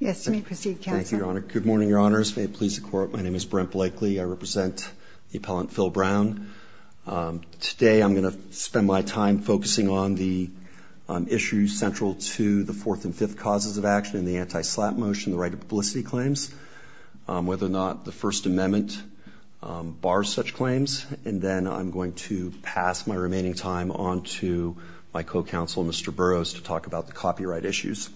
Good morning, Your Honors. May it please the Court, my name is Brent Blakely. I represent the appellant Phil Brown. Today I'm going to spend my time focusing on the issues central to the fourth and fifth causes of action in the anti-SLAPP motion, the right of publicity claims, whether or not the First Amendment bars such claims, and then I'm going to pass my remaining time on to my co-counsel, Mr. Burroughs, to talk about the copyright issues.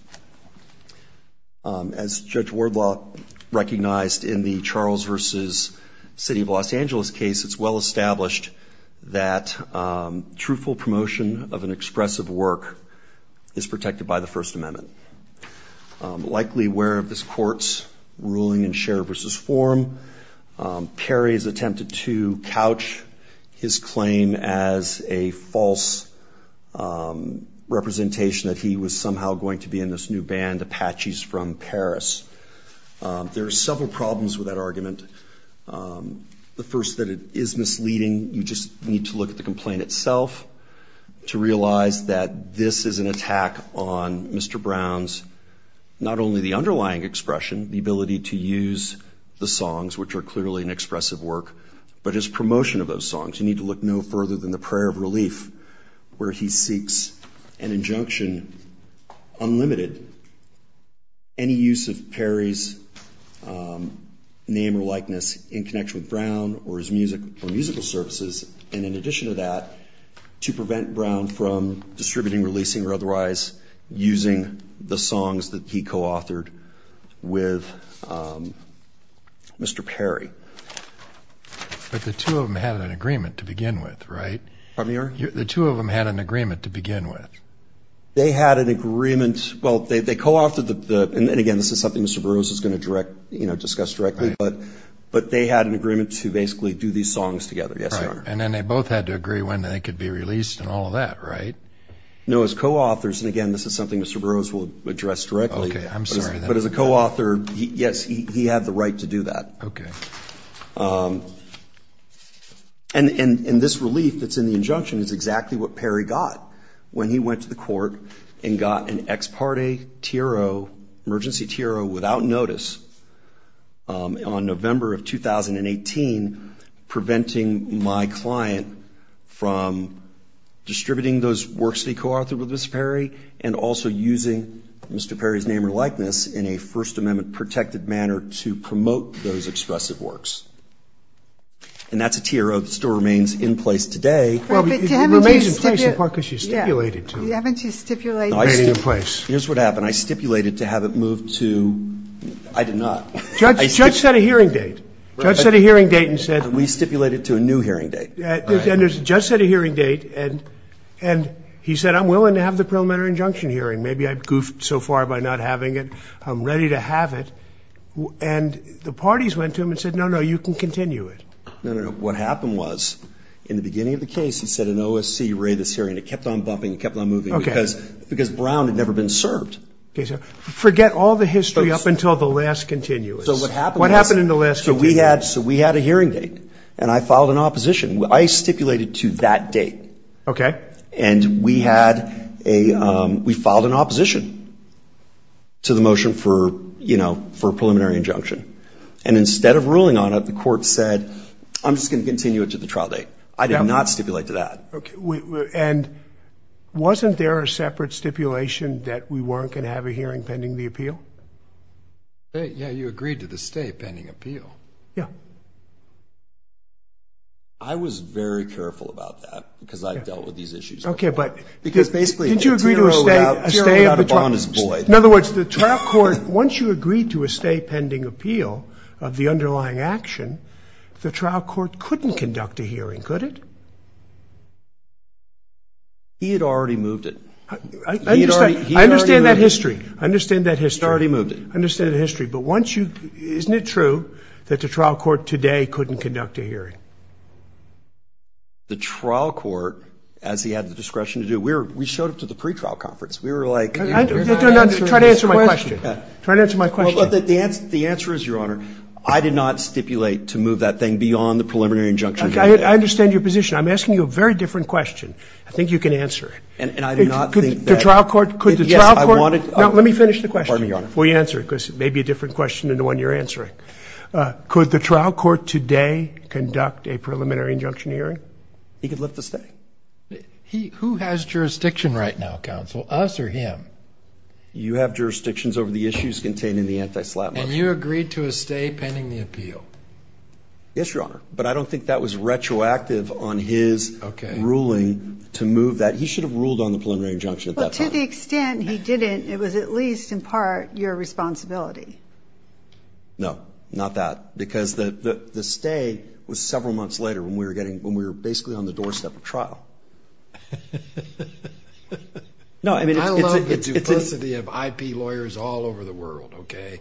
As Judge Wardlaw recognized in the Charles v. City of Los Angeles case, it's well established that truthful promotion of an expressive work is protected by the First Amendment. Likely aware of this Court's ruling in Sheriff v. Forum, Perry has attempted to couch his claim as a false representation that he was somehow going to be in this new band, Apaches from Paris. There are several problems with that argument. The first, that it is misleading. You just need to look at the complaint itself to realize that this is an attack on Mr. Brown's not only the underlying expression, the ability to use the songs, which are clearly an expressive work, but his promotion of those songs. You need to look no further than the Prayer of Relief, where he seeks an injunction, unlimited, any use of Perry's name or likeness in connection with Brown or his musical services, and in addition to that, to prevent Brown from distributing, releasing, or otherwise using the songs that he co-authored with Mr. Perry. But the two of them had an agreement to begin with, right? Pardon me, Your Honor? The two of them had an agreement to begin with. They had an agreement, well, they co-authored the, and again, this is something Mr. Burroughs is going to direct, you know, discuss directly, but they had an agreement to basically do these songs together, yes, Your Honor. And then they both had to agree when they could be released and all of that, right? No, as co-authors, and again, this is something Mr. Burroughs will address directly. Okay, I'm sorry. But as a co-author, yes, he had the right to do that. Okay. And this relief that's in the injunction is exactly what Perry got when he went to the court and got an ex parte Tiro, emergency Tiro without notice on November of 2018, preventing my client from distributing those works that he co-authored with Mr. Perry and also using Mr. Perry's name or likeness in a First Amendment-protected manner to promote those expressive works. And that's a Tiro that still remains in place today. Well, it remains in place in part because she stipulated to. Yeah, haven't you stipulated? No, I stipulated. Here's what happened. I stipulated to have it moved to, I did not. Judge set a hearing date. Judge set a hearing date and said. We stipulated to a new hearing date. And the judge set a hearing date and he said, I'm willing to have the preliminary injunction hearing. Maybe I goofed so far by not having it. I'm ready to have it. And the parties went to him and said, no, no, you can continue it. No, no, no. What happened was in the beginning of the case, he said an OSC raided this hearing. It kept on bumping. It kept on moving because Brown had never been served. Okay, so forget all the history up until the last continuous. So what happened in the last continuous? So we had a hearing date and I filed an opposition. I stipulated to that date. Okay. And we had a, we filed an opposition to the motion for, you know, for a preliminary injunction. And instead of ruling on it, the court said, I'm just going to continue it to the trial date. I did not stipulate to that. And wasn't there a separate stipulation that we weren't going to have a hearing pending the appeal? Yeah, you agreed to the state pending appeal. Yeah. I was very careful about that because I've dealt with these issues. Okay. But because basically, did you agree to a stay of the trial? In other words, the trial court, once you agreed to a stay pending appeal of the underlying action, the trial court couldn't conduct a hearing, could it? He had already moved it. I understand that history. I understand that history. Already moved it. I understand the history. But once you, isn't it true that the trial court today couldn't conduct a hearing? The trial court, as he had the discretion to do, we're, we showed up to the pre-trial conference. We were like. Try to answer my question. Try to answer my question. The answer is, Your Honor, I did not stipulate to move that thing beyond the preliminary injunction. I understand your position. I'm asking you a very different question. I think you can answer it. And I do not think that. The trial court, could the trial court. Let me finish the question. Will you answer it? Because it may be a different question than the one you're answering. Could the trial court today conduct a preliminary injunction hearing? He could lift the stay. Who has jurisdiction right now, counsel, us or him? You have jurisdictions over the issues contained in the anti-SLAP motion. And you agreed to a stay pending the appeal. Yes, Your Honor. But I don't think that was retroactive on his ruling to move that. He should have ruled on the preliminary injunction at that time. To the extent he didn't, it was at least, in part, your responsibility. No, not that. Because the stay was several months later when we were getting, when we were basically on the doorstep of trial. No, I mean. I love the duplicity of IP lawyers all over the world, okay.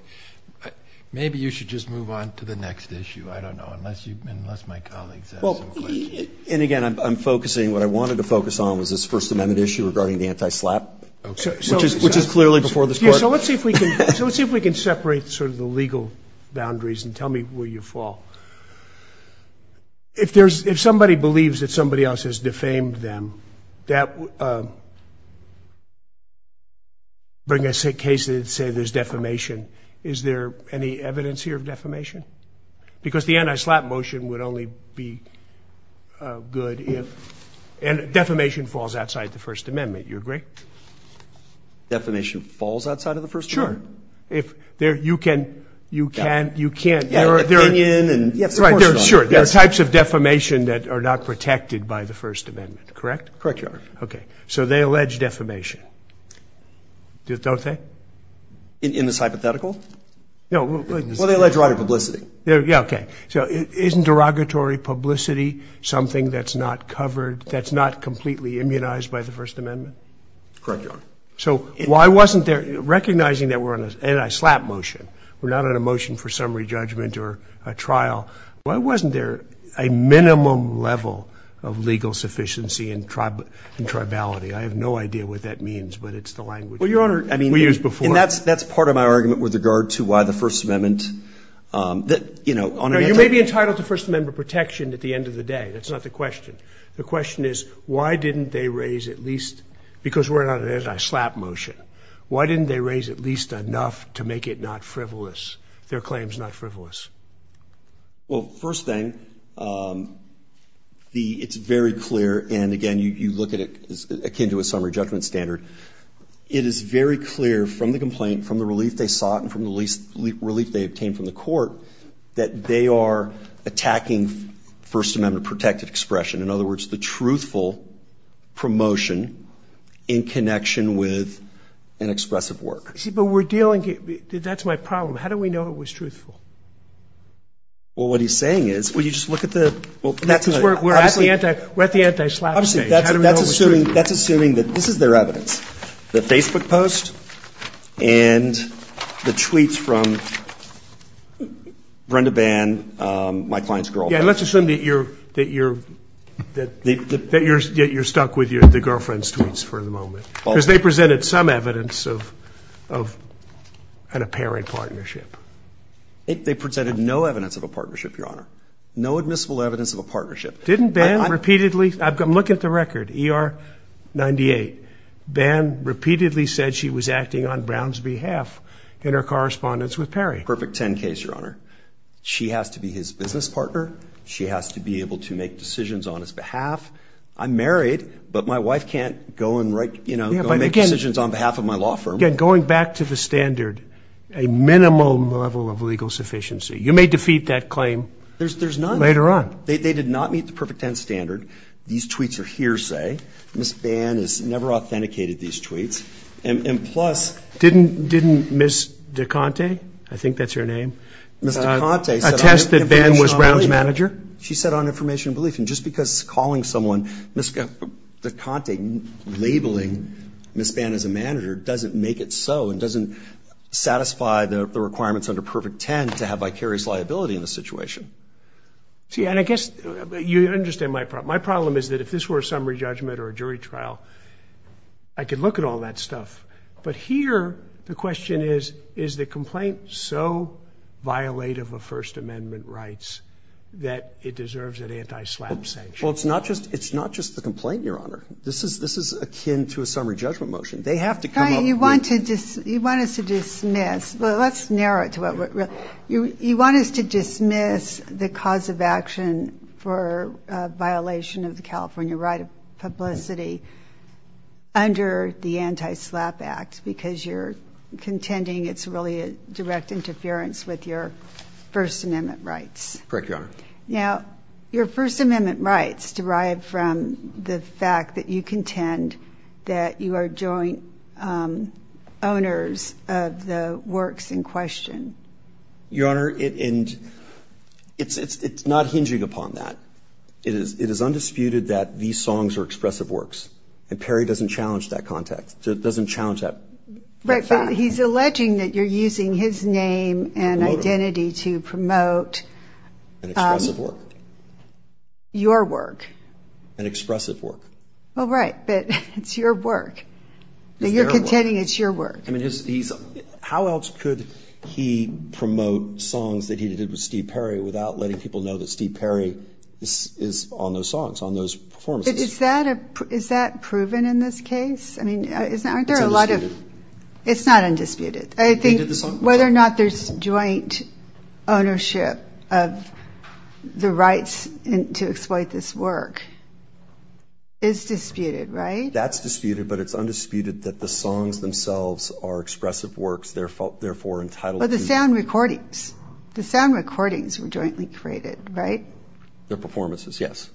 Maybe you should just move on to the next issue. I don't know. Unless you, unless my colleagues have some questions. And again, I'm focusing, what I wanted to focus on was this First Amendment issue regarding the anti-SLAP, which is clearly before this Court. So let's see if we can, so let's see if we can separate sort of the legal boundaries and tell me where you fall. If there's, if somebody believes that somebody else has defamed them, that, bring a case that'd say there's defamation, is there any evidence here of defamation? Because the anti-SLAP motion would only be good if, and defamation falls outside the First Amendment, you agree? Defamation falls outside of the First Amendment? Sure. If there, you can, you can't, you can't. Yeah, opinion and, yeah, of course not. Sure, there are types of defamation that are not protected by the First Amendment, correct? Correct, Your Honor. Okay. So they allege defamation, don't they? In this hypothetical? No, but. Well, they allege derogatory publicity. Yeah, okay. So isn't derogatory publicity something that's not covered, that's not completely immunized by the First Amendment? Correct, Your Honor. So why wasn't there, recognizing that we're on an anti-SLAP motion, we're not on a motion for summary judgment or a trial, why wasn't there a minimum level of legal sufficiency and tribality? I have no idea what that means, but it's the language. Well, Your Honor, I mean. We used before. And that's, that's part of my argument with regard to why the First Amendment, that, you know, on. You may be entitled to First Amendment protection at the end of the day. That's not the question. The question is, why didn't they raise at least, because we're on an anti-SLAP motion, why didn't they raise at least enough to make it not frivolous, their claims not frivolous? Well, first thing, the, it's very clear. And again, you look at it as akin to a summary judgment standard. It is very clear from the complaint, from the relief they sought, and from the least relief they obtained from the court, that they are attacking First Amendment protected expression. In other words, the truthful promotion in connection with an expressive work. You see, but we're dealing, that's my problem. How do we know it was truthful? Well, what he's saying is, well, you just look at the, well, that's. Because we're, we're at the anti, we're at the anti-SLAP stage. How do we know it was truthful? That's assuming, that's assuming that this is their evidence. The Facebook post and the tweets from Brenda Bann, my client's girlfriend. And let's assume that you're, that you're, that you're, that you're stuck with your, the girlfriend's tweets for the moment. Because they presented some evidence of, of an apparent partnership. They presented no evidence of a partnership, Your Honor. No admissible evidence of a partnership. Didn't Bann repeatedly, I'm looking at the record, ER 98. Bann repeatedly said she was acting on Brown's behalf in her correspondence with Perry. Perfect 10 case, Your Honor. She has to be his business partner. She has to be able to make decisions on his behalf. I'm married, but my wife can't go and write, you know, go make decisions on behalf of my law firm. Again, going back to the standard, a minimum level of legal sufficiency. You may defeat that claim. There's, there's none. Later on. They, they did not meet the perfect 10 standard. These tweets are hearsay. Ms. Bann has never authenticated these tweets. And, and plus. Didn't, didn't Ms. DeConte, I think that's her name. Ms. DeConte. Attest that Bann was Brown's manager. She said on information and belief. And just because calling someone Ms. DeConte, labeling Ms. Bann as a manager doesn't make it so. And doesn't satisfy the requirements under perfect 10 to have vicarious liability in this situation. See, and I guess you understand my problem. My problem is that if this were a summary judgment or a jury trial, I could look at all that stuff. But here, the question is, is the complaint so violative of First Amendment rights that it deserves an anti-SLAPP sanction? Well, it's not just, it's not just the complaint, Your Honor. This is, this is akin to a summary judgment motion. They have to come up with. Fine, you want to dismiss, you want us to dismiss. Well, let's narrow it to what we're, you, you want us to dismiss the cause of action for a violation of the California right of publicity under the Anti-SLAPP Act. Because you're contending it's really a direct interference with your First Amendment rights. Correct, Your Honor. Now, your First Amendment rights derived from the fact that you contend that you are joint owners of the works in question. Your Honor, it, and it's, it's, it's not hinging upon that. It is, it is undisputed that these songs are expressive works. And Perry doesn't challenge that context. So it doesn't challenge that. Right, but he's alleging that you're using his name and identity to promote. An expressive work. Your work. An expressive work. Well, right, but it's your work. You're contending it's your work. I mean, he's, he's, how else could he promote songs that he did with Steve Perry without letting people know that Steve Perry is, is on those songs, on those performances? Is that a, is that proven in this case? I mean, isn't, aren't there a lot of, it's not undisputed. I think whether or not there's joint ownership of the rights to exploit this work is disputed, right? That's disputed, but it's undisputed that the songs themselves are expressive works, therefore, therefore entitled. But the sound recordings, the sound recordings were jointly created, right? Their performances, yes.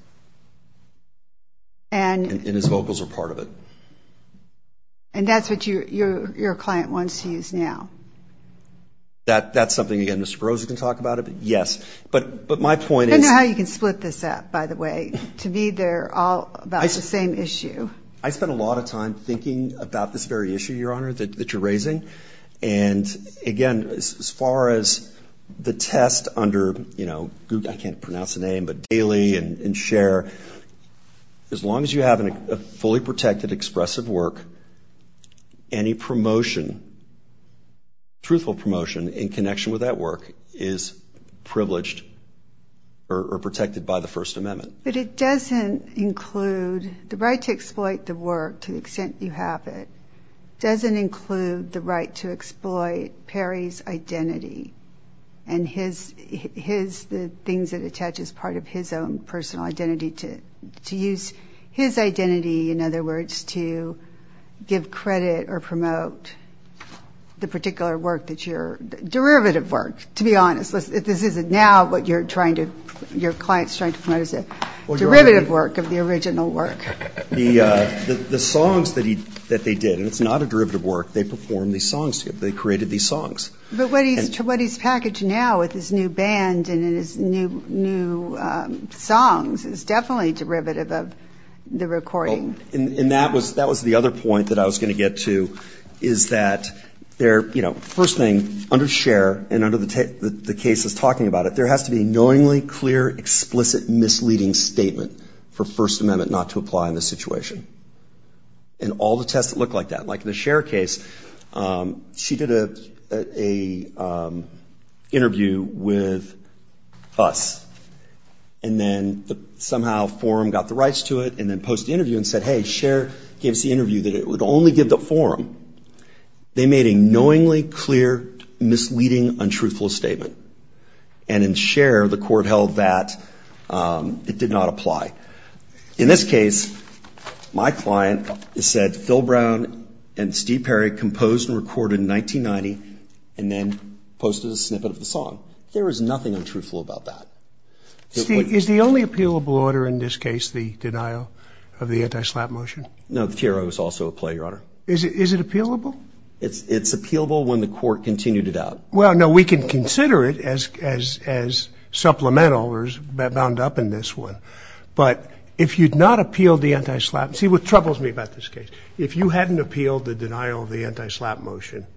And. And his vocals are part of it. And that's what you, your, your client wants to use now. That, that's something, again, Mr. Berosa can talk about it. Yes, but, but my point is. I don't know how you can split this up, by the way, to be there all about the same issue. I spent a lot of time thinking about this very issue, Your Honor, that you're raising. And again, as far as the test under, you know, Google, I can't pronounce the name, but Daily and Share, as long as you have a fully protected expressive work, any promotion, truthful promotion in connection with that work is privileged or protected by the First Amendment. But it doesn't include, the right to exploit the work to the extent you have it, doesn't include the right to exploit Perry's identity. And his, his, the things that attach as part of his own personal identity to, to use his identity, in other words, to give credit or promote the particular work that you're, derivative work, to be honest. This isn't now what you're trying to, your client's trying to promote. It's a derivative work of the original work. The, the songs that he, that they did, and it's not a derivative work. They perform these songs to you. They created these songs. But what he's, what he's packaged now with his new band and in his new, new songs is definitely derivative of the recording. And that was, that was the other point that I was going to get to, is that there, you know, first thing under Scher and under the, the cases talking about it, there has to be knowingly clear, explicit misleading statement for First Amendment not to apply in this situation. And all the tests that look like that, like the Scher case, she did a, a interview with us. And then the, somehow forum got the rights to it and then posted the interview and said, hey, Scher gave us the interview that it would only give the forum. They made a knowingly clear, misleading, untruthful statement. And in Scher, the court held that it did not apply. In this case, my client said Phil Brown and Steve Perry composed and recorded in 1990 and then posted a snippet of the song. There is nothing untruthful about that. See, is the only appealable order in this case, the denial of the anti-SLAPP motion? No, the TRO is also a play, Your Honor. Is it, is it appealable? It's, it's appealable when the court continued it out. Well, no, we can consider it as, as, as supplemental or bound up in this one. But if you'd not appealed the anti-SLAPP, see what troubles me about this case, if you hadn't appealed the denial of the anti-SLAPP motion,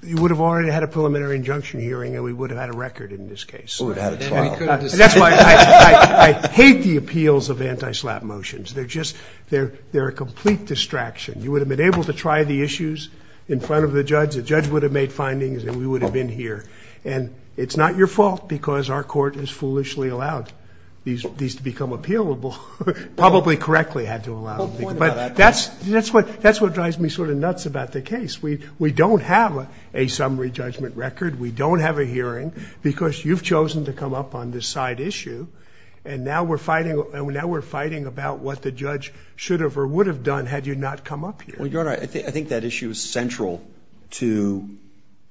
you would have already had a preliminary injunction hearing and we would have had a record in this case. And that's why I, I, I hate the appeals of anti-SLAPP motions. They're just, they're, they're a complete distraction. You would have been able to try the issues in front of the judge. The judge would have made findings and we would have been here. And it's not your fault because our court has foolishly allowed these, these to become appealable, probably correctly had to allow them. But that's, that's what, that's what drives me sort of nuts about the case. We, we don't have a summary judgment record. We don't have a hearing because you've chosen to come up on this side issue. And now we're fighting, now we're fighting about what the judge should have or would have done had you not come up here. Well, Your Honor, I think, I think that issue is central to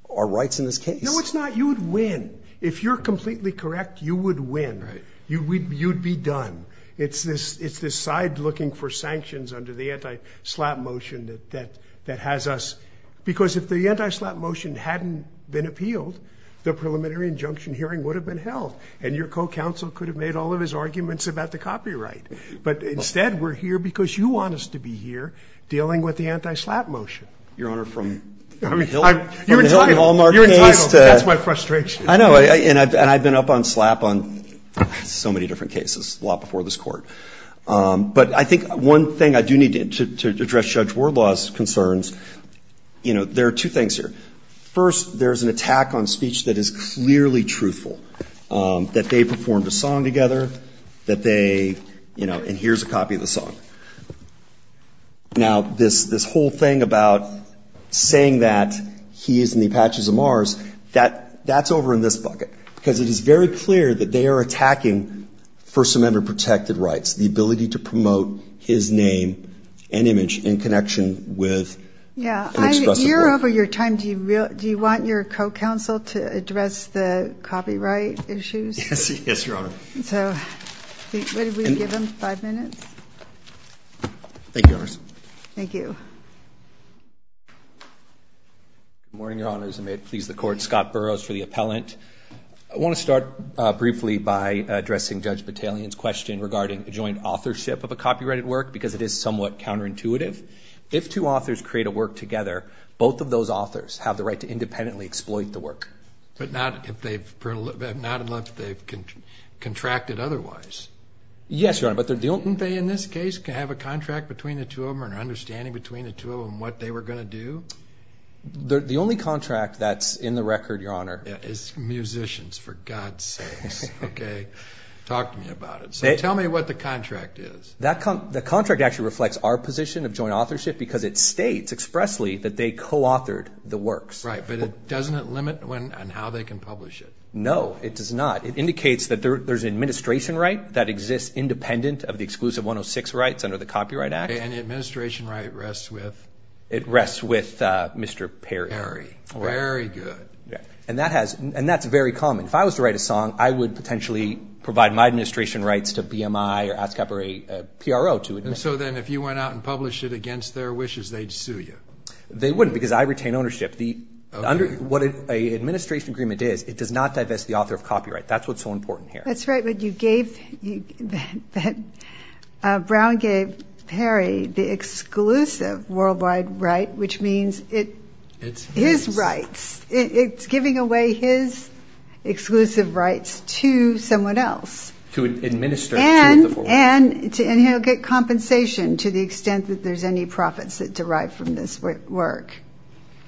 our rights in this case. No, it's not. You would win. If you're completely correct, you would win. Right. You would, you'd be done. It's this, it's this side looking for sanctions under the anti-SLAPP motion that, that, that has us, because if the anti-SLAPP motion hadn't been appealed, the preliminary injunction hearing would have been held. And your co-counsel could have made all of his arguments about the copyright. But instead, we're here because you want us to be here dealing with the anti-SLAPP motion. Your Honor, from, I mean, you're entitled, you're entitled, that's my frustration. I know. And I've, and I've been up on SLAPP on so many different cases, a lot before this court. But I think one thing I do need to, to address Judge Wardlaw's concerns, you know, there are two things here. First, there's an attack on speech that is clearly truthful, that they performed a song together, that they, you know, and here's a copy of the song. Now, this, this whole thing about saying that he is in the patches of Mars, that, that's over in this bucket, because it is very clear that they are attacking First Amendment protected rights, the ability to promote his name and image in connection with. Yeah, I, you're over your time. Do you really, do you want your co-counsel to address the copyright issues? Yes, yes, Your Honor. So, what did we give him, five minutes? Thank you, Your Honors. Thank you. Good morning, Your Honors, and may it please the court. Scott Burroughs for the appellant. I want to start briefly by addressing Judge Battalion's question regarding joint authorship of a copyrighted work, because it is somewhat counterintuitive. If two authors create a work together, both of those authors have the right to independently exploit the work. But not if they've, not unless they've contracted otherwise. Yes, Your Honor, but they're dealing. Didn't they, in this case, have a contract between the two of them, or an understanding between the two of them, what they were going to do? The only contract that's in the record, Your Honor. Musicians, for God's sakes, okay? Talk to me about it. So, tell me what the contract is. The contract actually reflects our position of joint authorship, because it states expressly that they co-authored the works. Right, but doesn't it limit on how they can publish it? No, it does not. It indicates that there's an administration right that exists independent of the exclusive 106 rights under the Copyright Act. And the administration right rests with? It rests with Mr. Perry. Perry, very good. And that has, and that's very common. If I was to write a song, I would potentially provide my administration rights to BMI or ASCAP or a PRO to administer. So then, if you went out and published it against their wishes, they'd sue you? They wouldn't, because I retain ownership. What an administration agreement is, it does not divest the author of copyright. That's what's so important here. That's right, but you gave, Brown gave Perry the exclusive worldwide right, which means it, his rights, it's giving away his exclusive rights to someone else. To administer. And he'll get compensation to the extent that there's any profits that derive from this work.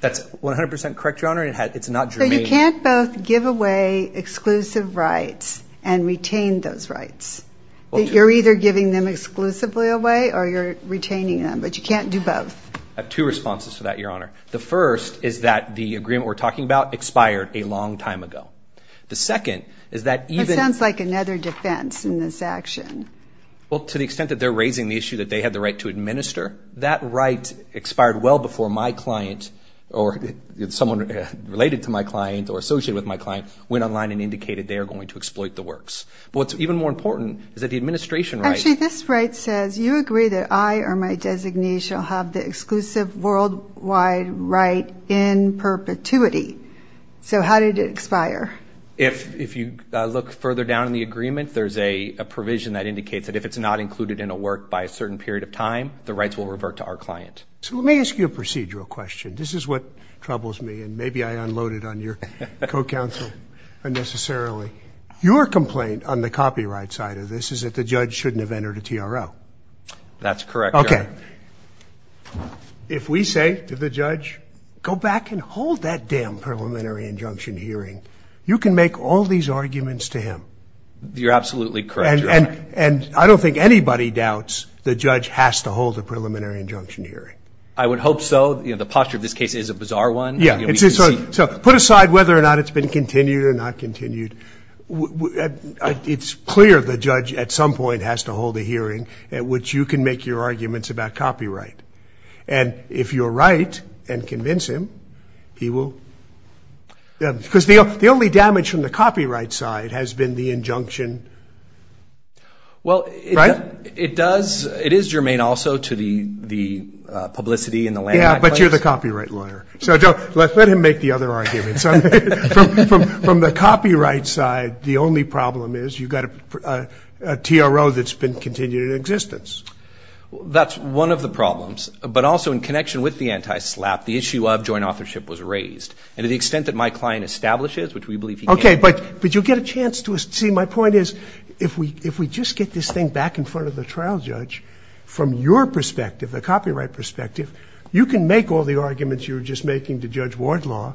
That's 100% correct, Your Honor, and it's not germane. So you can't both give away exclusive rights and retain those rights. You're either giving them exclusively away or you're retaining them, but you can't do both. I have two responses to that, Your Honor. The first is that the agreement we're talking about expired a long time ago. The second is that even... That sounds like another defense in this action. Well, to the extent that they're raising the issue that they had the right to administer, that right expired well before my client or someone related to my client or associated with my client went online and indicated they are going to exploit the works. But what's even more important is that the administration right... Actually, this right says you agree that I or my designee shall have the exclusive worldwide right in perpetuity. So how did it expire? If you look further down in the agreement, there's a provision that indicates that if it's not included in a work by a certain period of time, the rights will revert to our client. So let me ask you a procedural question. This is what troubles me, and maybe I unloaded on your co-counsel unnecessarily. Your complaint on the copyright side of this is that the judge shouldn't have entered a TRO. That's correct, Your Honor. Okay. If we say to the judge, go back and hold that damn preliminary injunction hearing, you can make all these arguments to him. You're absolutely correct, Your Honor. And I don't think anybody doubts the judge has to hold a preliminary injunction hearing. I would hope so. The posture of this case is a bizarre one. Yeah. So put aside whether or not it's been continued or not continued. It's clear the judge at some point has to hold a hearing at which you can make your arguments about copyright. And if you're right and convince him, he will. Because the only damage from the copyright side has been the injunction. Well, it does. It is germane also to the publicity in the land. Yeah, but you're the copyright lawyer. So let him make the other arguments. From the copyright side, the only problem is you've got a TRO that's been continued in existence. That's one of the problems. But also in connection with the anti-SLAPP, the issue of joint authorship was raised. And to the extent that my client establishes, which we believe he can... Okay, but you get a chance to... See, my point is, if we just get this thing back in front of the trial judge, from your perspective, the copyright perspective, you can make all the arguments you were just making to Judge Wardlaw.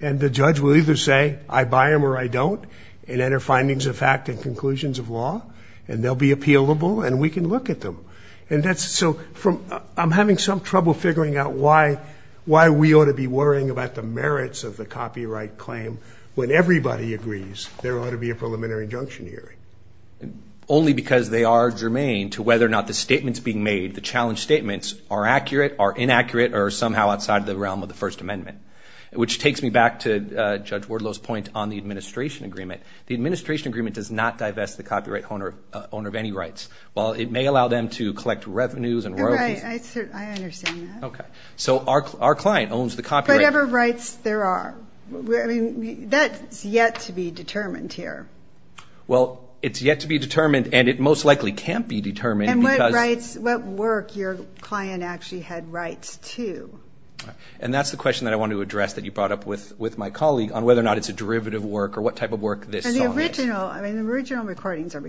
And the judge will either say, I buy them or I don't, and enter findings of fact and conclusions of law. And they'll be appealable, and we can look at them. And that's... So I'm having some trouble figuring out why we ought to be worrying about the merits of the copyright claim when everybody agrees there ought to be a preliminary injunction hearing. Only because they are germane to whether or not the statements being made, the challenge statements, are accurate, are inaccurate, or somehow outside the realm of the First Amendment. Which takes me back to Judge Wardlaw's point on the administration agreement. The administration agreement does not divest the copyright owner of any rights. While it may allow them to collect revenues and royalties... Right, I understand that. Okay. So our client owns the copyright... Whatever rights there are. I mean, that's yet to be determined here. Well, it's yet to be determined, and it most likely can't be determined because... And what rights, what work your client actually had rights to. And that's the question that I wanted to address that you brought up with my colleague, on whether or not it's a derivative work, or what type of work this song is. I mean, the original recordings or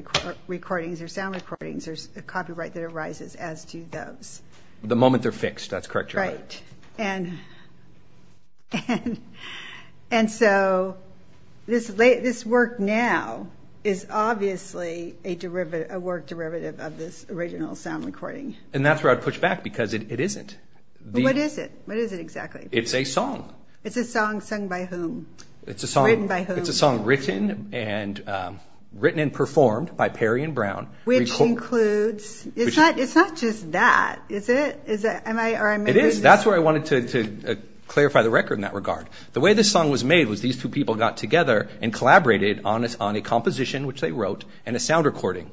sound recordings, there's a copyright that arises as to those. The moment they're fixed, that's correct, you're right. Right. And so this work now is obviously a work derivative of this original sound recording. And that's where I'd push back, because it isn't. What is it? What is it exactly? It's a song. It's a song sung by whom? It's a song... Written by whom? It's a song written and performed by Perry and Brown. Which includes... It's not just that, is it? It is. That's where I wanted to clarify the record in that regard. The way this song was made was these two people got together and collaborated on a composition, which they wrote, and a sound recording,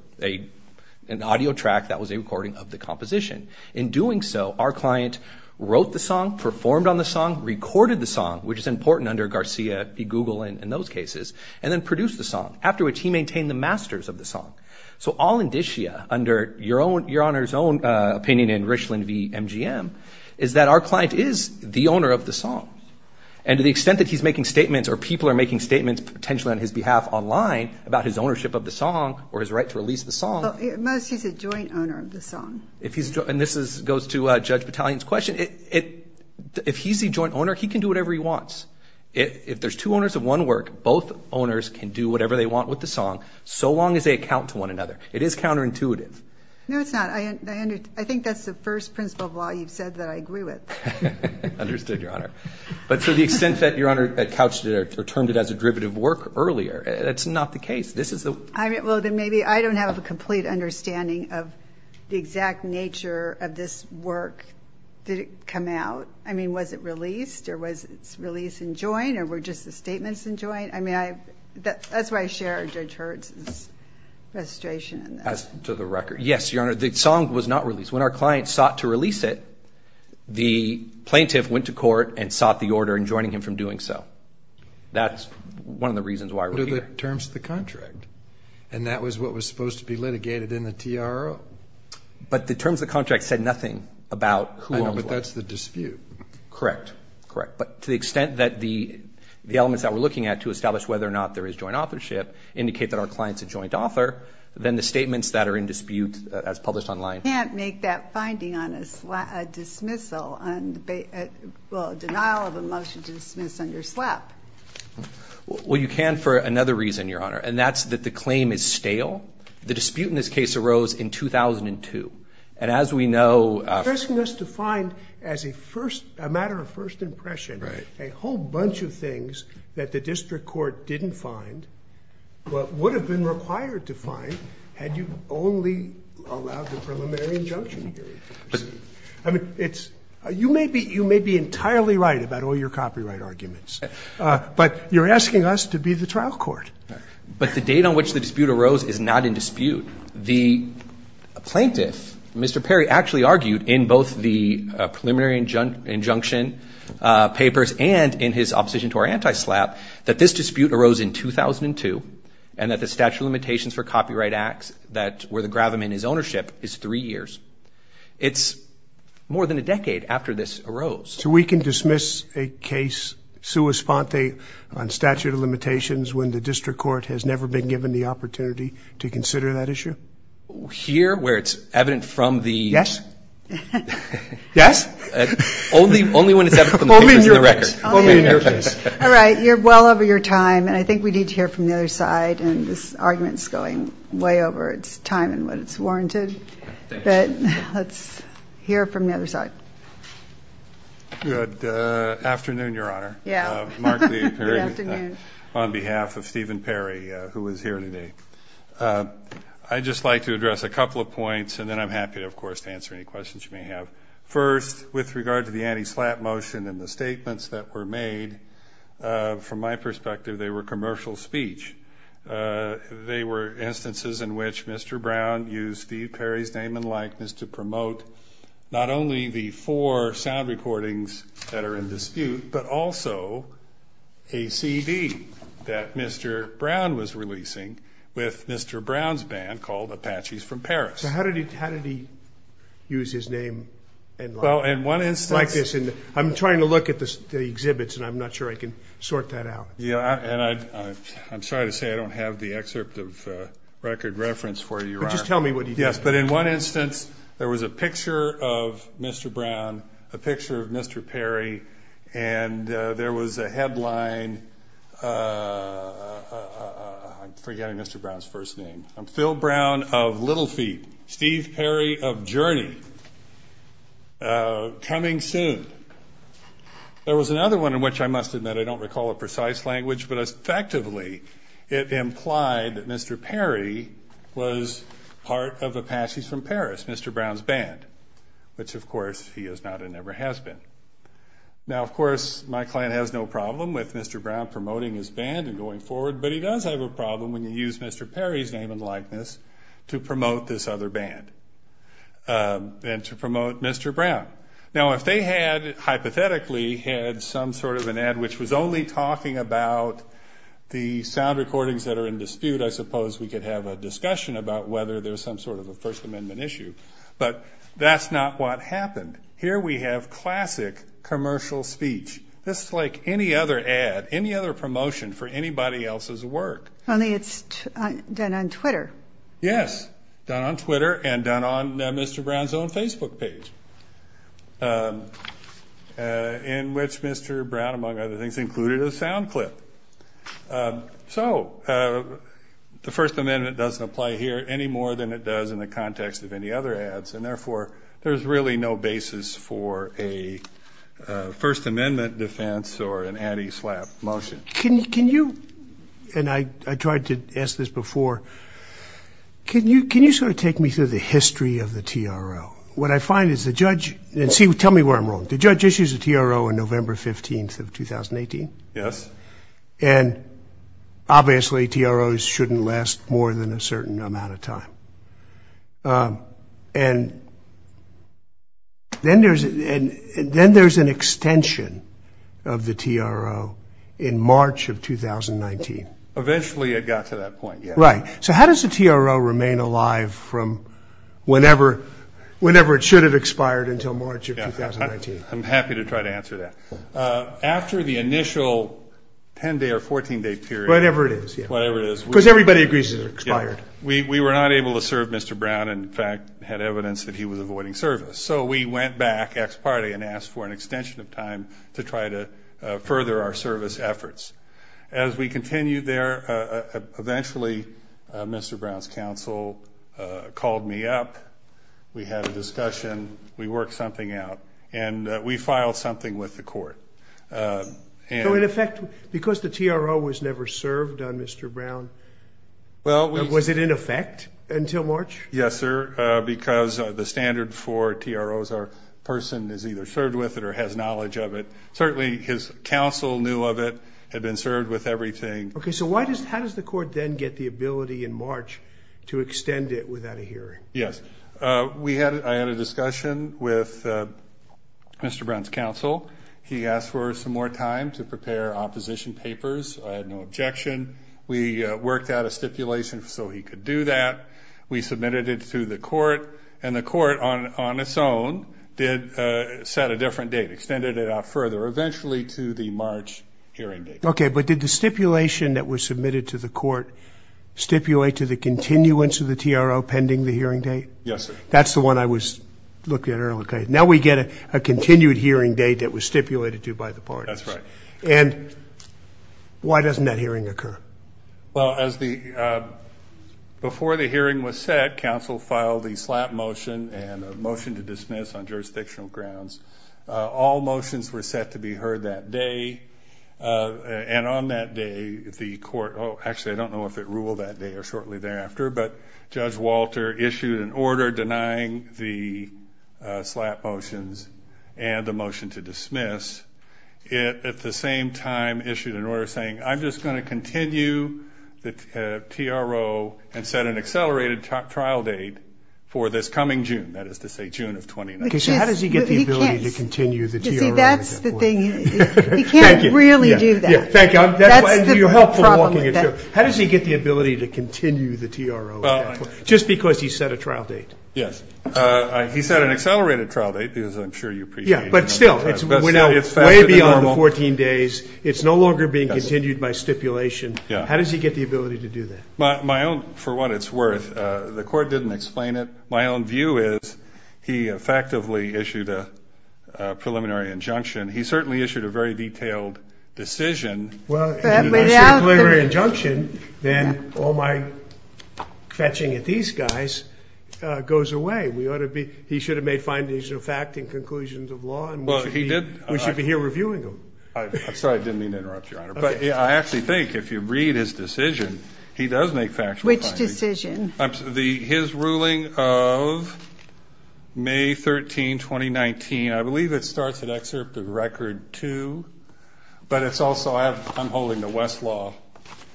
an audio track that was a recording of the composition. In doing so, our client wrote the song, performed on the song, recorded the song, which is important under Garcia v. Google in those cases, and then produced the song, after which he maintained the masters of the song. So all indicia, under Your Honor's own opinion in Richland v. MGM, is that our client is the owner of the song. And to the extent that he's making statements, or people are making statements, potentially on his behalf online, about his ownership of the song or his right to release the song... Most, he's a joint owner of the song. If he's... And this goes to Judge Battalion's question. If he's the joint owner, he can do whatever he wants. If there's two owners of one work, both owners can do whatever they want with the song, so long as they account to one another. It is counterintuitive. No, it's not. I think that's the first principle of law you've said that I agree with. Understood, Your Honor. But to the extent that Your Honor had couched it, or termed it as a derivative work earlier, that's not the case. This is the... Well, then maybe I don't have a complete understanding of the exact nature of this work. Did it come out? I mean, was it released? Or was its release in joint? Or were just the statements in joint? I mean, that's why I share Judge Hertz's registration in that. As to the record, yes, Your Honor, the song was not released. When our client sought to release it, the plaintiff went to court and sought the order in joining him from doing so. That's one of the reasons why we're here. What are the terms of the contract? And that was what was supposed to be litigated in the TRO? But the terms of the contract said nothing about who owns what. I know, but that's the dispute. Correct, correct. But to the extent that the elements that we're looking at to establish whether or not there is joint authorship indicate that our client's a joint author, then the statements that are in dispute as published online... You can't make that finding on a dismissal, well, denial of a motion to dismiss under SLAP. Well, you can for another reason, Your Honor. And that's that the claim is stale. The dispute in this case arose in 2002. And as we know... You're asking us to find, as a matter of first impression, a whole bunch of things that the district court didn't find, but would have been required to find had you only allowed the preliminary injunction hearing. I mean, you may be entirely right about all your copyright arguments, but you're asking us to be the trial court. But the date on which the dispute arose is not in dispute. The plaintiff, Mr. Perry, actually argued in both the preliminary injunction papers and in his opposition to our anti-SLAP that this dispute arose in 2002 and that the statute of limitations for copyright acts that were the gravam in his ownership is three years. It's more than a decade after this arose. So we can dismiss a case sua sponte on statute of limitations when the district court has never been given the opportunity to consider that issue? Here, where it's evident from the... Yes? Yes? Only when it's evident from the papers and the record. Only in your case. All right. You're well over your time. And I think we need to hear from the other side. And this argument is going way over its time and what it's warranted. But let's hear from the other side. Good afternoon, Your Honor. Yeah. Mark Lee Perry on behalf of Stephen Perry, who is here today. I'd just like to address a couple of points. And then I'm happy, of course, to answer any questions you may have. First, with regard to the anti-SLAP motion and the statements that were made, from my perspective, they were commercial speech. They were instances in which Mr. Brown used Steve Perry's name and likeness to promote not only the four sound recordings that are in dispute, but also a CD that Mr. Brown was releasing with Mr. Brown's band called Apaches from Paris. So how did he use his name? Well, in one instance... Like this. I'm trying to look at the exhibits and I'm not sure I can sort that out. Yeah. I'm sorry to say I don't have the excerpt of record reference for you, Your Honor. Just tell me what he did. Yes. But in one instance, there was a picture of Mr. Brown, a picture of Mr. Perry, and there was a headline... I'm forgetting Mr. Brown's first name. I'm Phil Brown of Little Feet. Steve Perry of Journey. Coming soon. There was another one in which I must admit I don't recall a precise language, but effectively it implied that Mr. Perry was part of Apaches from Paris, Mr. Brown's band, which of course he is not and never has been. Now, of course, my client has no problem with Mr. Brown promoting his band and going forward, but he does have a problem when you use Mr. Perry's name and likeness to promote this other band and to promote Mr. Brown. Now, if they had, hypothetically, had some sort of an ad which was only talking about the sound recordings that are in dispute, I suppose we could have a discussion about whether there's some sort of a First Amendment issue, but that's not what happened. Here we have classic commercial speech, just like any other ad, any other promotion for anybody else's work. Only it's done on Twitter. Yes, done on Twitter and done on Mr. Brown's own Facebook page, in which Mr. Brown, among other things, included a sound clip. So the First Amendment doesn't apply here any more than it does in the context of any other ads, and therefore, there's really no basis for a First Amendment defense or an anti-SLAPP motion. Can you, and I tried to ask this before, can you sort of take me through the history of the TRO? What I find is the judge, and tell me where I'm wrong, the judge issues a TRO on November 15th of 2018? Yes. And obviously, TROs shouldn't last more than a certain amount of time. And then there's an extension of the TRO in March of 2019. Eventually, it got to that point. Right. So how does the TRO remain alive from whenever it should have expired until March of 2019? I'm happy to try to answer that. After the initial 10-day or 14-day period. Whatever it is. Whatever it is. Because everybody agrees it expired. We were not able to serve Mr. Brown, and in fact, had evidence that he was avoiding service. So we went back, ex parte, and asked for an extension of time to try to further our service efforts. As we continued there, eventually, Mr. Brown's counsel called me up. We had a discussion. We worked something out. And we filed something with the court. So in effect, because the TRO was never served on Mr. Brown? Well, we... Was it in effect until March? Yes, sir. Because the standard for TROs, our person is either served with it or has knowledge of it. Certainly, his counsel knew of it, had been served with everything. Okay. So why does, how does the court then get the ability in March to extend it without a hearing? Yes. We had, I had a discussion with Mr. Brown's counsel. He asked for some more time to prepare opposition papers. I had no objection. We worked out a stipulation so he could do that. We submitted it to the court. And the court on its own did, set a different date, extended it out further, eventually to the March hearing date. Okay. But did the stipulation that was submitted to the court stipulate to the continuance of the TRO pending the hearing date? Yes, sir. That's the one I was looking at earlier. Now we get a continued hearing date that was stipulated to by the parties. That's right. And why doesn't that hearing occur? Well, as the, before the hearing was set, counsel filed the slap motion and a motion to dismiss on jurisdictional grounds. All motions were set to be heard that day. And on that day, the court, oh, actually, I don't know if it ruled that day or shortly thereafter, but Judge Walter issued an order denying the slap motions and the motion to dismiss. It, at the same time, issued an order saying, I'm just going to continue the TRO and set an accelerated trial date for this coming June. That is to say, June of 2019. So how does he get the ability to continue the TRO? See, that's the thing. He can't really do that. Thank you. How does he get the ability to continue the TRO? Just because he set a trial date? Yes. He set an accelerated trial date because I'm sure you appreciate it. Yeah. But still, it's, we're now, way beyond the 14 days. It's no longer being continued by stipulation. How does he get the ability to do that? My own, for what it's worth, the court didn't explain it. My own view is, he effectively issued a preliminary injunction. He certainly issued a very detailed decision. Well, if he issued a preliminary injunction, then all my fetching at these guys goes away. We ought to be, he should have made findings of fact and conclusions of law. We should be here reviewing them. I'm sorry, I didn't mean to interrupt, Your Honor. But I actually think, if you read his decision, he does make factual findings. Which decision? His ruling of May 13, 2019. I believe it starts at excerpt of record two. But it's also, I'm holding the Westlaw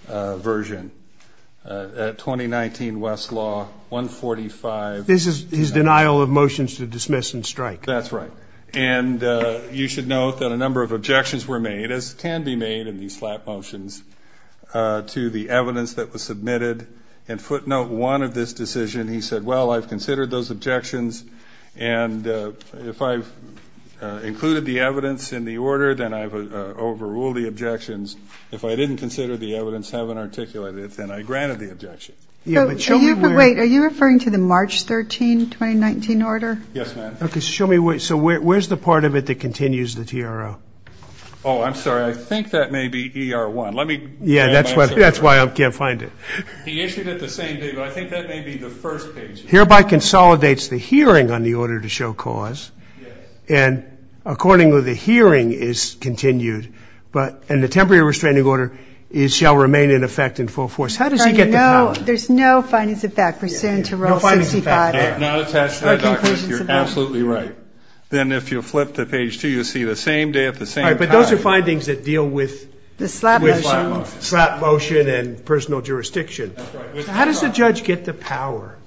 version. At 2019 Westlaw, 145. This is his denial of motions to dismiss and strike. That's right. And you should note that a number of objections were made, as can be made in these flat motions, to the evidence that was submitted. And footnote one of this decision, he said, well, I've considered those objections. And if I've included the evidence in the order, then I've overruled the objections. If I didn't consider the evidence, haven't articulated it, then I granted the objection. Yeah, but show me where. Wait, are you referring to the March 13, 2019 order? Yes, ma'am. Okay, show me where. Where's the part of it that continues the TRO? Oh, I'm sorry. I think that may be ER1. Let me. Yeah, that's why I can't find it. He issued it the same day. But I think that may be the first page. Hereby consolidates the hearing on the order to show cause. And accordingly, the hearing is continued. But in the temporary restraining order, it shall remain in effect in full force. How does he get the power? There's no findings of fact for SIN to rule 65. Not attached to the document. You're absolutely right. Then if you flip to page two, you'll see the same day at the same time. But those are findings that deal with. The slap motion. Slap motion and personal jurisdiction. How does the judge get the power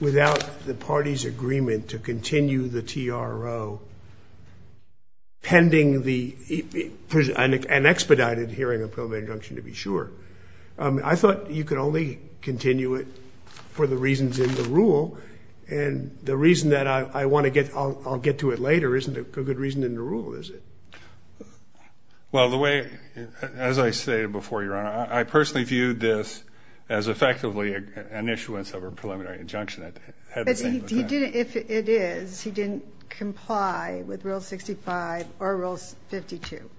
without the party's agreement to continue the TRO pending the, an expedited hearing of probate injunction to be sure? I thought you could only continue it for the reasons in the rule. And the reason that I want to get, I'll get to it later. Isn't a good reason in the rule, is it? Well, the way, as I stated before your honor, I personally viewed this as effectively an issuance of a preliminary injunction. If it is, he didn't comply with rule 65 or rules 52.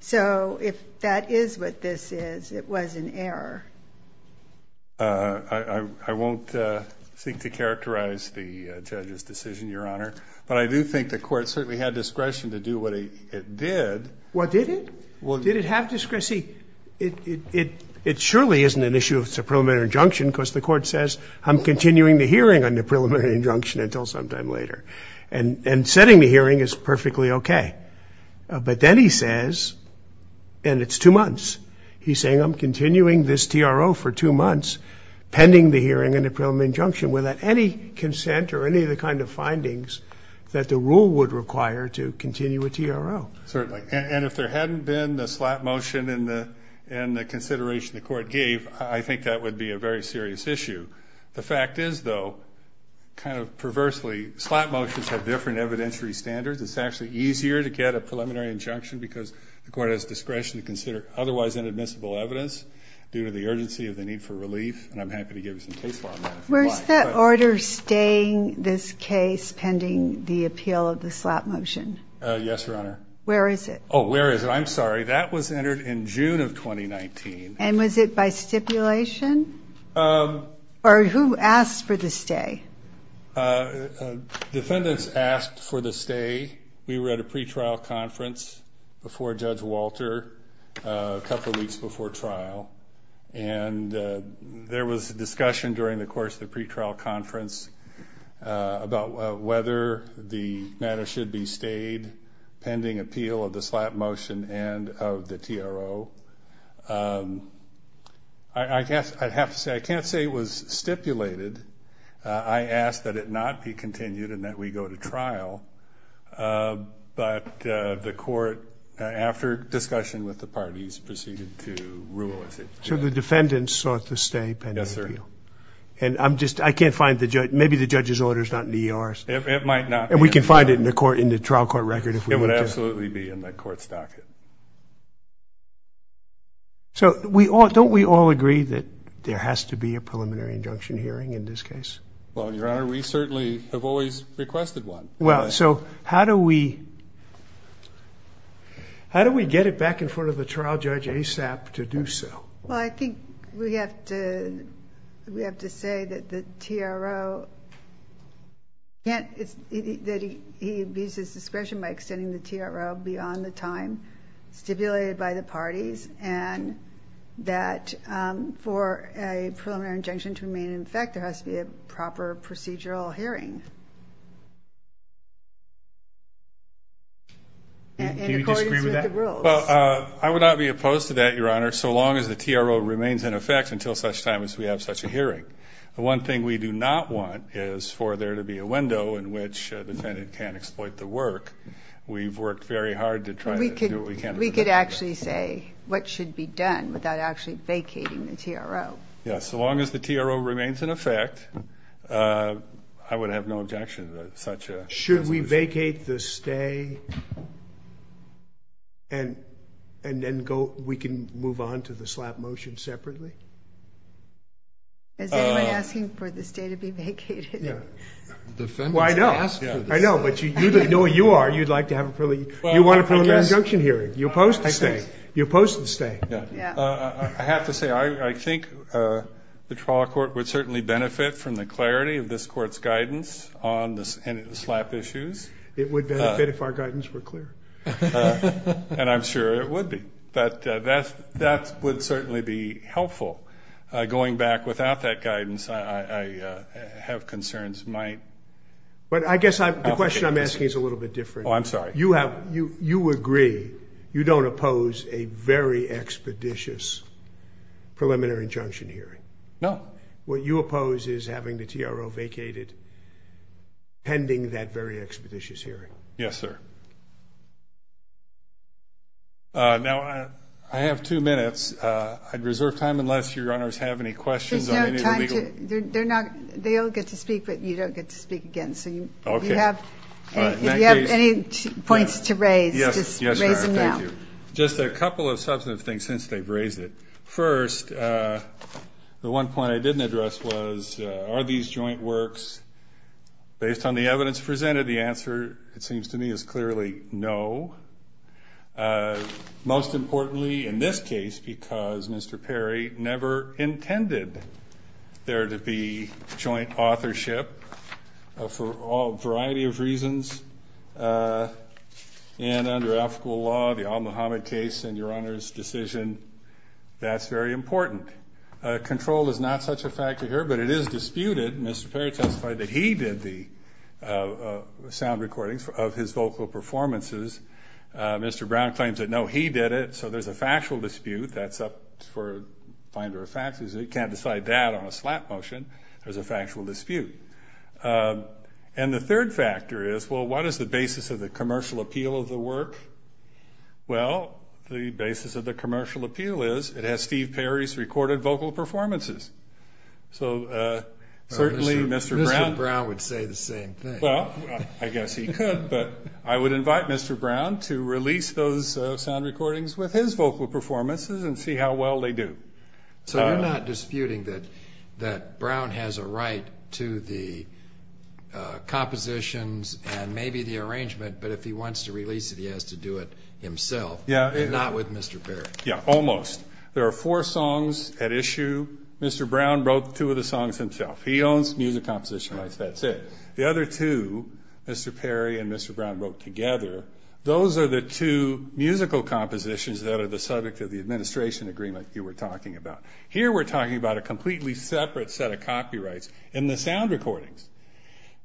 So if that is what this is, it was an error. I won't seek to characterize the judge's decision, your honor. But I do think the court certainly had discretion to do what it did. Well, did it? Well, did it have discretion? See, it surely isn't an issue if it's a preliminary injunction because the court says I'm continuing the hearing on the preliminary injunction until sometime later. And setting the hearing is perfectly okay. But then he says, and it's two months, he's saying I'm continuing this TRO for two months pending the hearing on the preliminary injunction without any consent or any of the kind of findings that the rule would require to continue a TRO. Certainly. And if there hadn't been the slap motion and the consideration the court gave, I think that would be a very serious issue. The fact is, though, kind of perversely, slap motions have different evidentiary standards. It's actually easier to get a preliminary injunction because the court has discretion to consider otherwise inadmissible evidence due to the urgency of the need for relief. And I'm happy to give you some case law on that if you'd like. Where's the order staying this case pending the appeal of the slap motion? Yes, Your Honor. Where is it? Oh, where is it? I'm sorry. That was entered in June of 2019. And was it by stipulation or who asked for the stay? Defendants asked for the stay. We were at a pretrial conference before Judge Walter, a couple of weeks before trial. And there was a discussion during the course of the pretrial conference about whether the matter should be stayed pending appeal of the slap motion and of the TRO. I guess I'd have to say I can't say it was stipulated. I ask that it not be continued and that we go to trial. But the court, after discussion with the parties, proceeded to rule with it. So the defendants sought to stay pending appeal? Yes, sir. And I'm just, I can't find the joint, maybe the judge's order is not in the ER. It might not. And we can find it in the court, in the trial court record. It would absolutely be in the court's docket. So we all, don't we all agree that there has to be a preliminary injunction hearing in this case? Well, Your Honor, we certainly have always requested one. Well, so how do we, how do we get it back in front of the trial judge ASAP to do so? Well, I think we have to, we have to say that the TRO can't, it's that he, he abuses discretion by extending the TRO beyond the time stipulated by the parties and that for a preliminary injunction to remain in effect, there has to be a proper procedural hearing. In accordance with the rules. Well, I would not be opposed to that, Your Honor, so long as the TRO remains in effect until such time as we have such a hearing. The one thing we do not want is for there to be a window in which the defendant can't exploit the work. We've worked very hard to try to do what we can. We could actually say what should be done without actually vacating the TRO. Yes, so long as the TRO remains in effect, I would have no objection to such a decision. Should we vacate the stay and, and then go, we can move on to the slap motion separately? Is anyone asking for the stay to be vacated? Yeah. Well, I know, I know, but you know you are, you'd like to have a preliminary, you want a preliminary injunction hearing. You oppose the stay. You oppose the stay. I have to say, I think the trial court would certainly benefit from the clarity of this court's guidance on the slap issues. It would benefit if our guidance were clear. And I'm sure it would be. But that's, that would certainly be helpful. Going back without that guidance, I have concerns. But I guess I, the question I'm asking is a little bit different. Oh, I'm sorry. You have, you, you agree, you don't oppose a very expeditious preliminary injunction hearing. No. What you oppose is having the TRO vacated pending that very expeditious hearing. Yes, sir. Now, I have two minutes. I'd reserve time unless your honors have any questions. They're not, they all get to speak, but you don't get to speak again. So you have any points to raise? Yes. Just a couple of substantive things since they've raised it. First, the one point I didn't address was, are these joint works based on the evidence presented? The answer, it seems to me, is clearly no. Most importantly, in this case, because Mr. Perry never intended there to be joint authorship for a variety of reasons, and under ethical law, the al-Muhammad case and your honors' decision, that's very important. Control is not such a factor here, but it is disputed. Mr. Perry testified that he did the sound recordings of his vocal performances. Mr. Brown claims that, no, he did it. So there's a factual dispute. That's up for a finder of facts. You can't decide that on a slap motion. There's a factual dispute. And the third factor is, well, what is the basis of the commercial appeal of the work? Well, the basis of the commercial appeal is it has Steve Perry's recorded vocal performances. So certainly, Mr. Brown— Mr. Brown would say the same thing. Well, I guess he could, but I would invite Mr. Brown to release those sound recordings with his vocal performances and see how well they do. So you're not disputing that Brown has a right to the compositions and maybe the arrangement, but if he wants to release it, he has to do it himself. Yeah. Not with Mr. Perry. Yeah, almost. There are four songs at issue. Mr. Brown wrote two of the songs himself. He owns music composition rights. That's it. The other two, Mr. Perry and Mr. Brown wrote together. Those are the two musical compositions that are the subject of the administration agreement you were talking about. Here, we're talking about a completely separate set of copyrights in the sound recordings.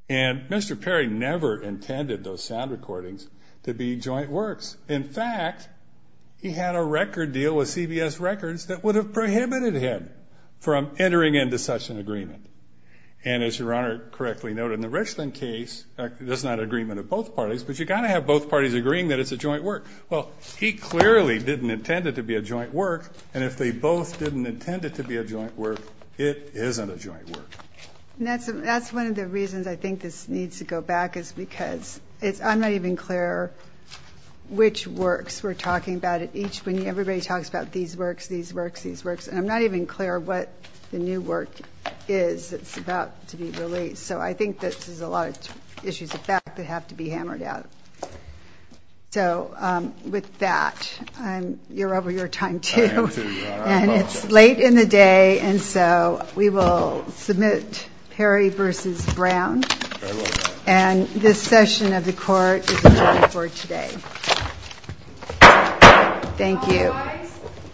And Mr. Perry never intended those sound recordings to be joint works. In fact, he had a record deal with CBS Records that would have prohibited him from entering into such an agreement. And as Your Honor correctly noted, in the Richland case, there's not an agreement of both parties, but you got to have both parties agreeing that it's a joint work. Well, he clearly didn't intend it to be a joint work. And if they both didn't intend it to be a joint work, it isn't a joint work. And that's one of the reasons I think this needs to go back is because it's, I'm not even clear which works we're talking about at each, when everybody talks about these works, these works, these works. And I'm not even clear what the new work is. It's about to be released. So I think that this is a lot of issues of fact that have to be hammered out. So with that, you're over your time too. And it's late in the day. And so we will submit Perry versus Brown. And this session of the court is adjourned for today. Thank you.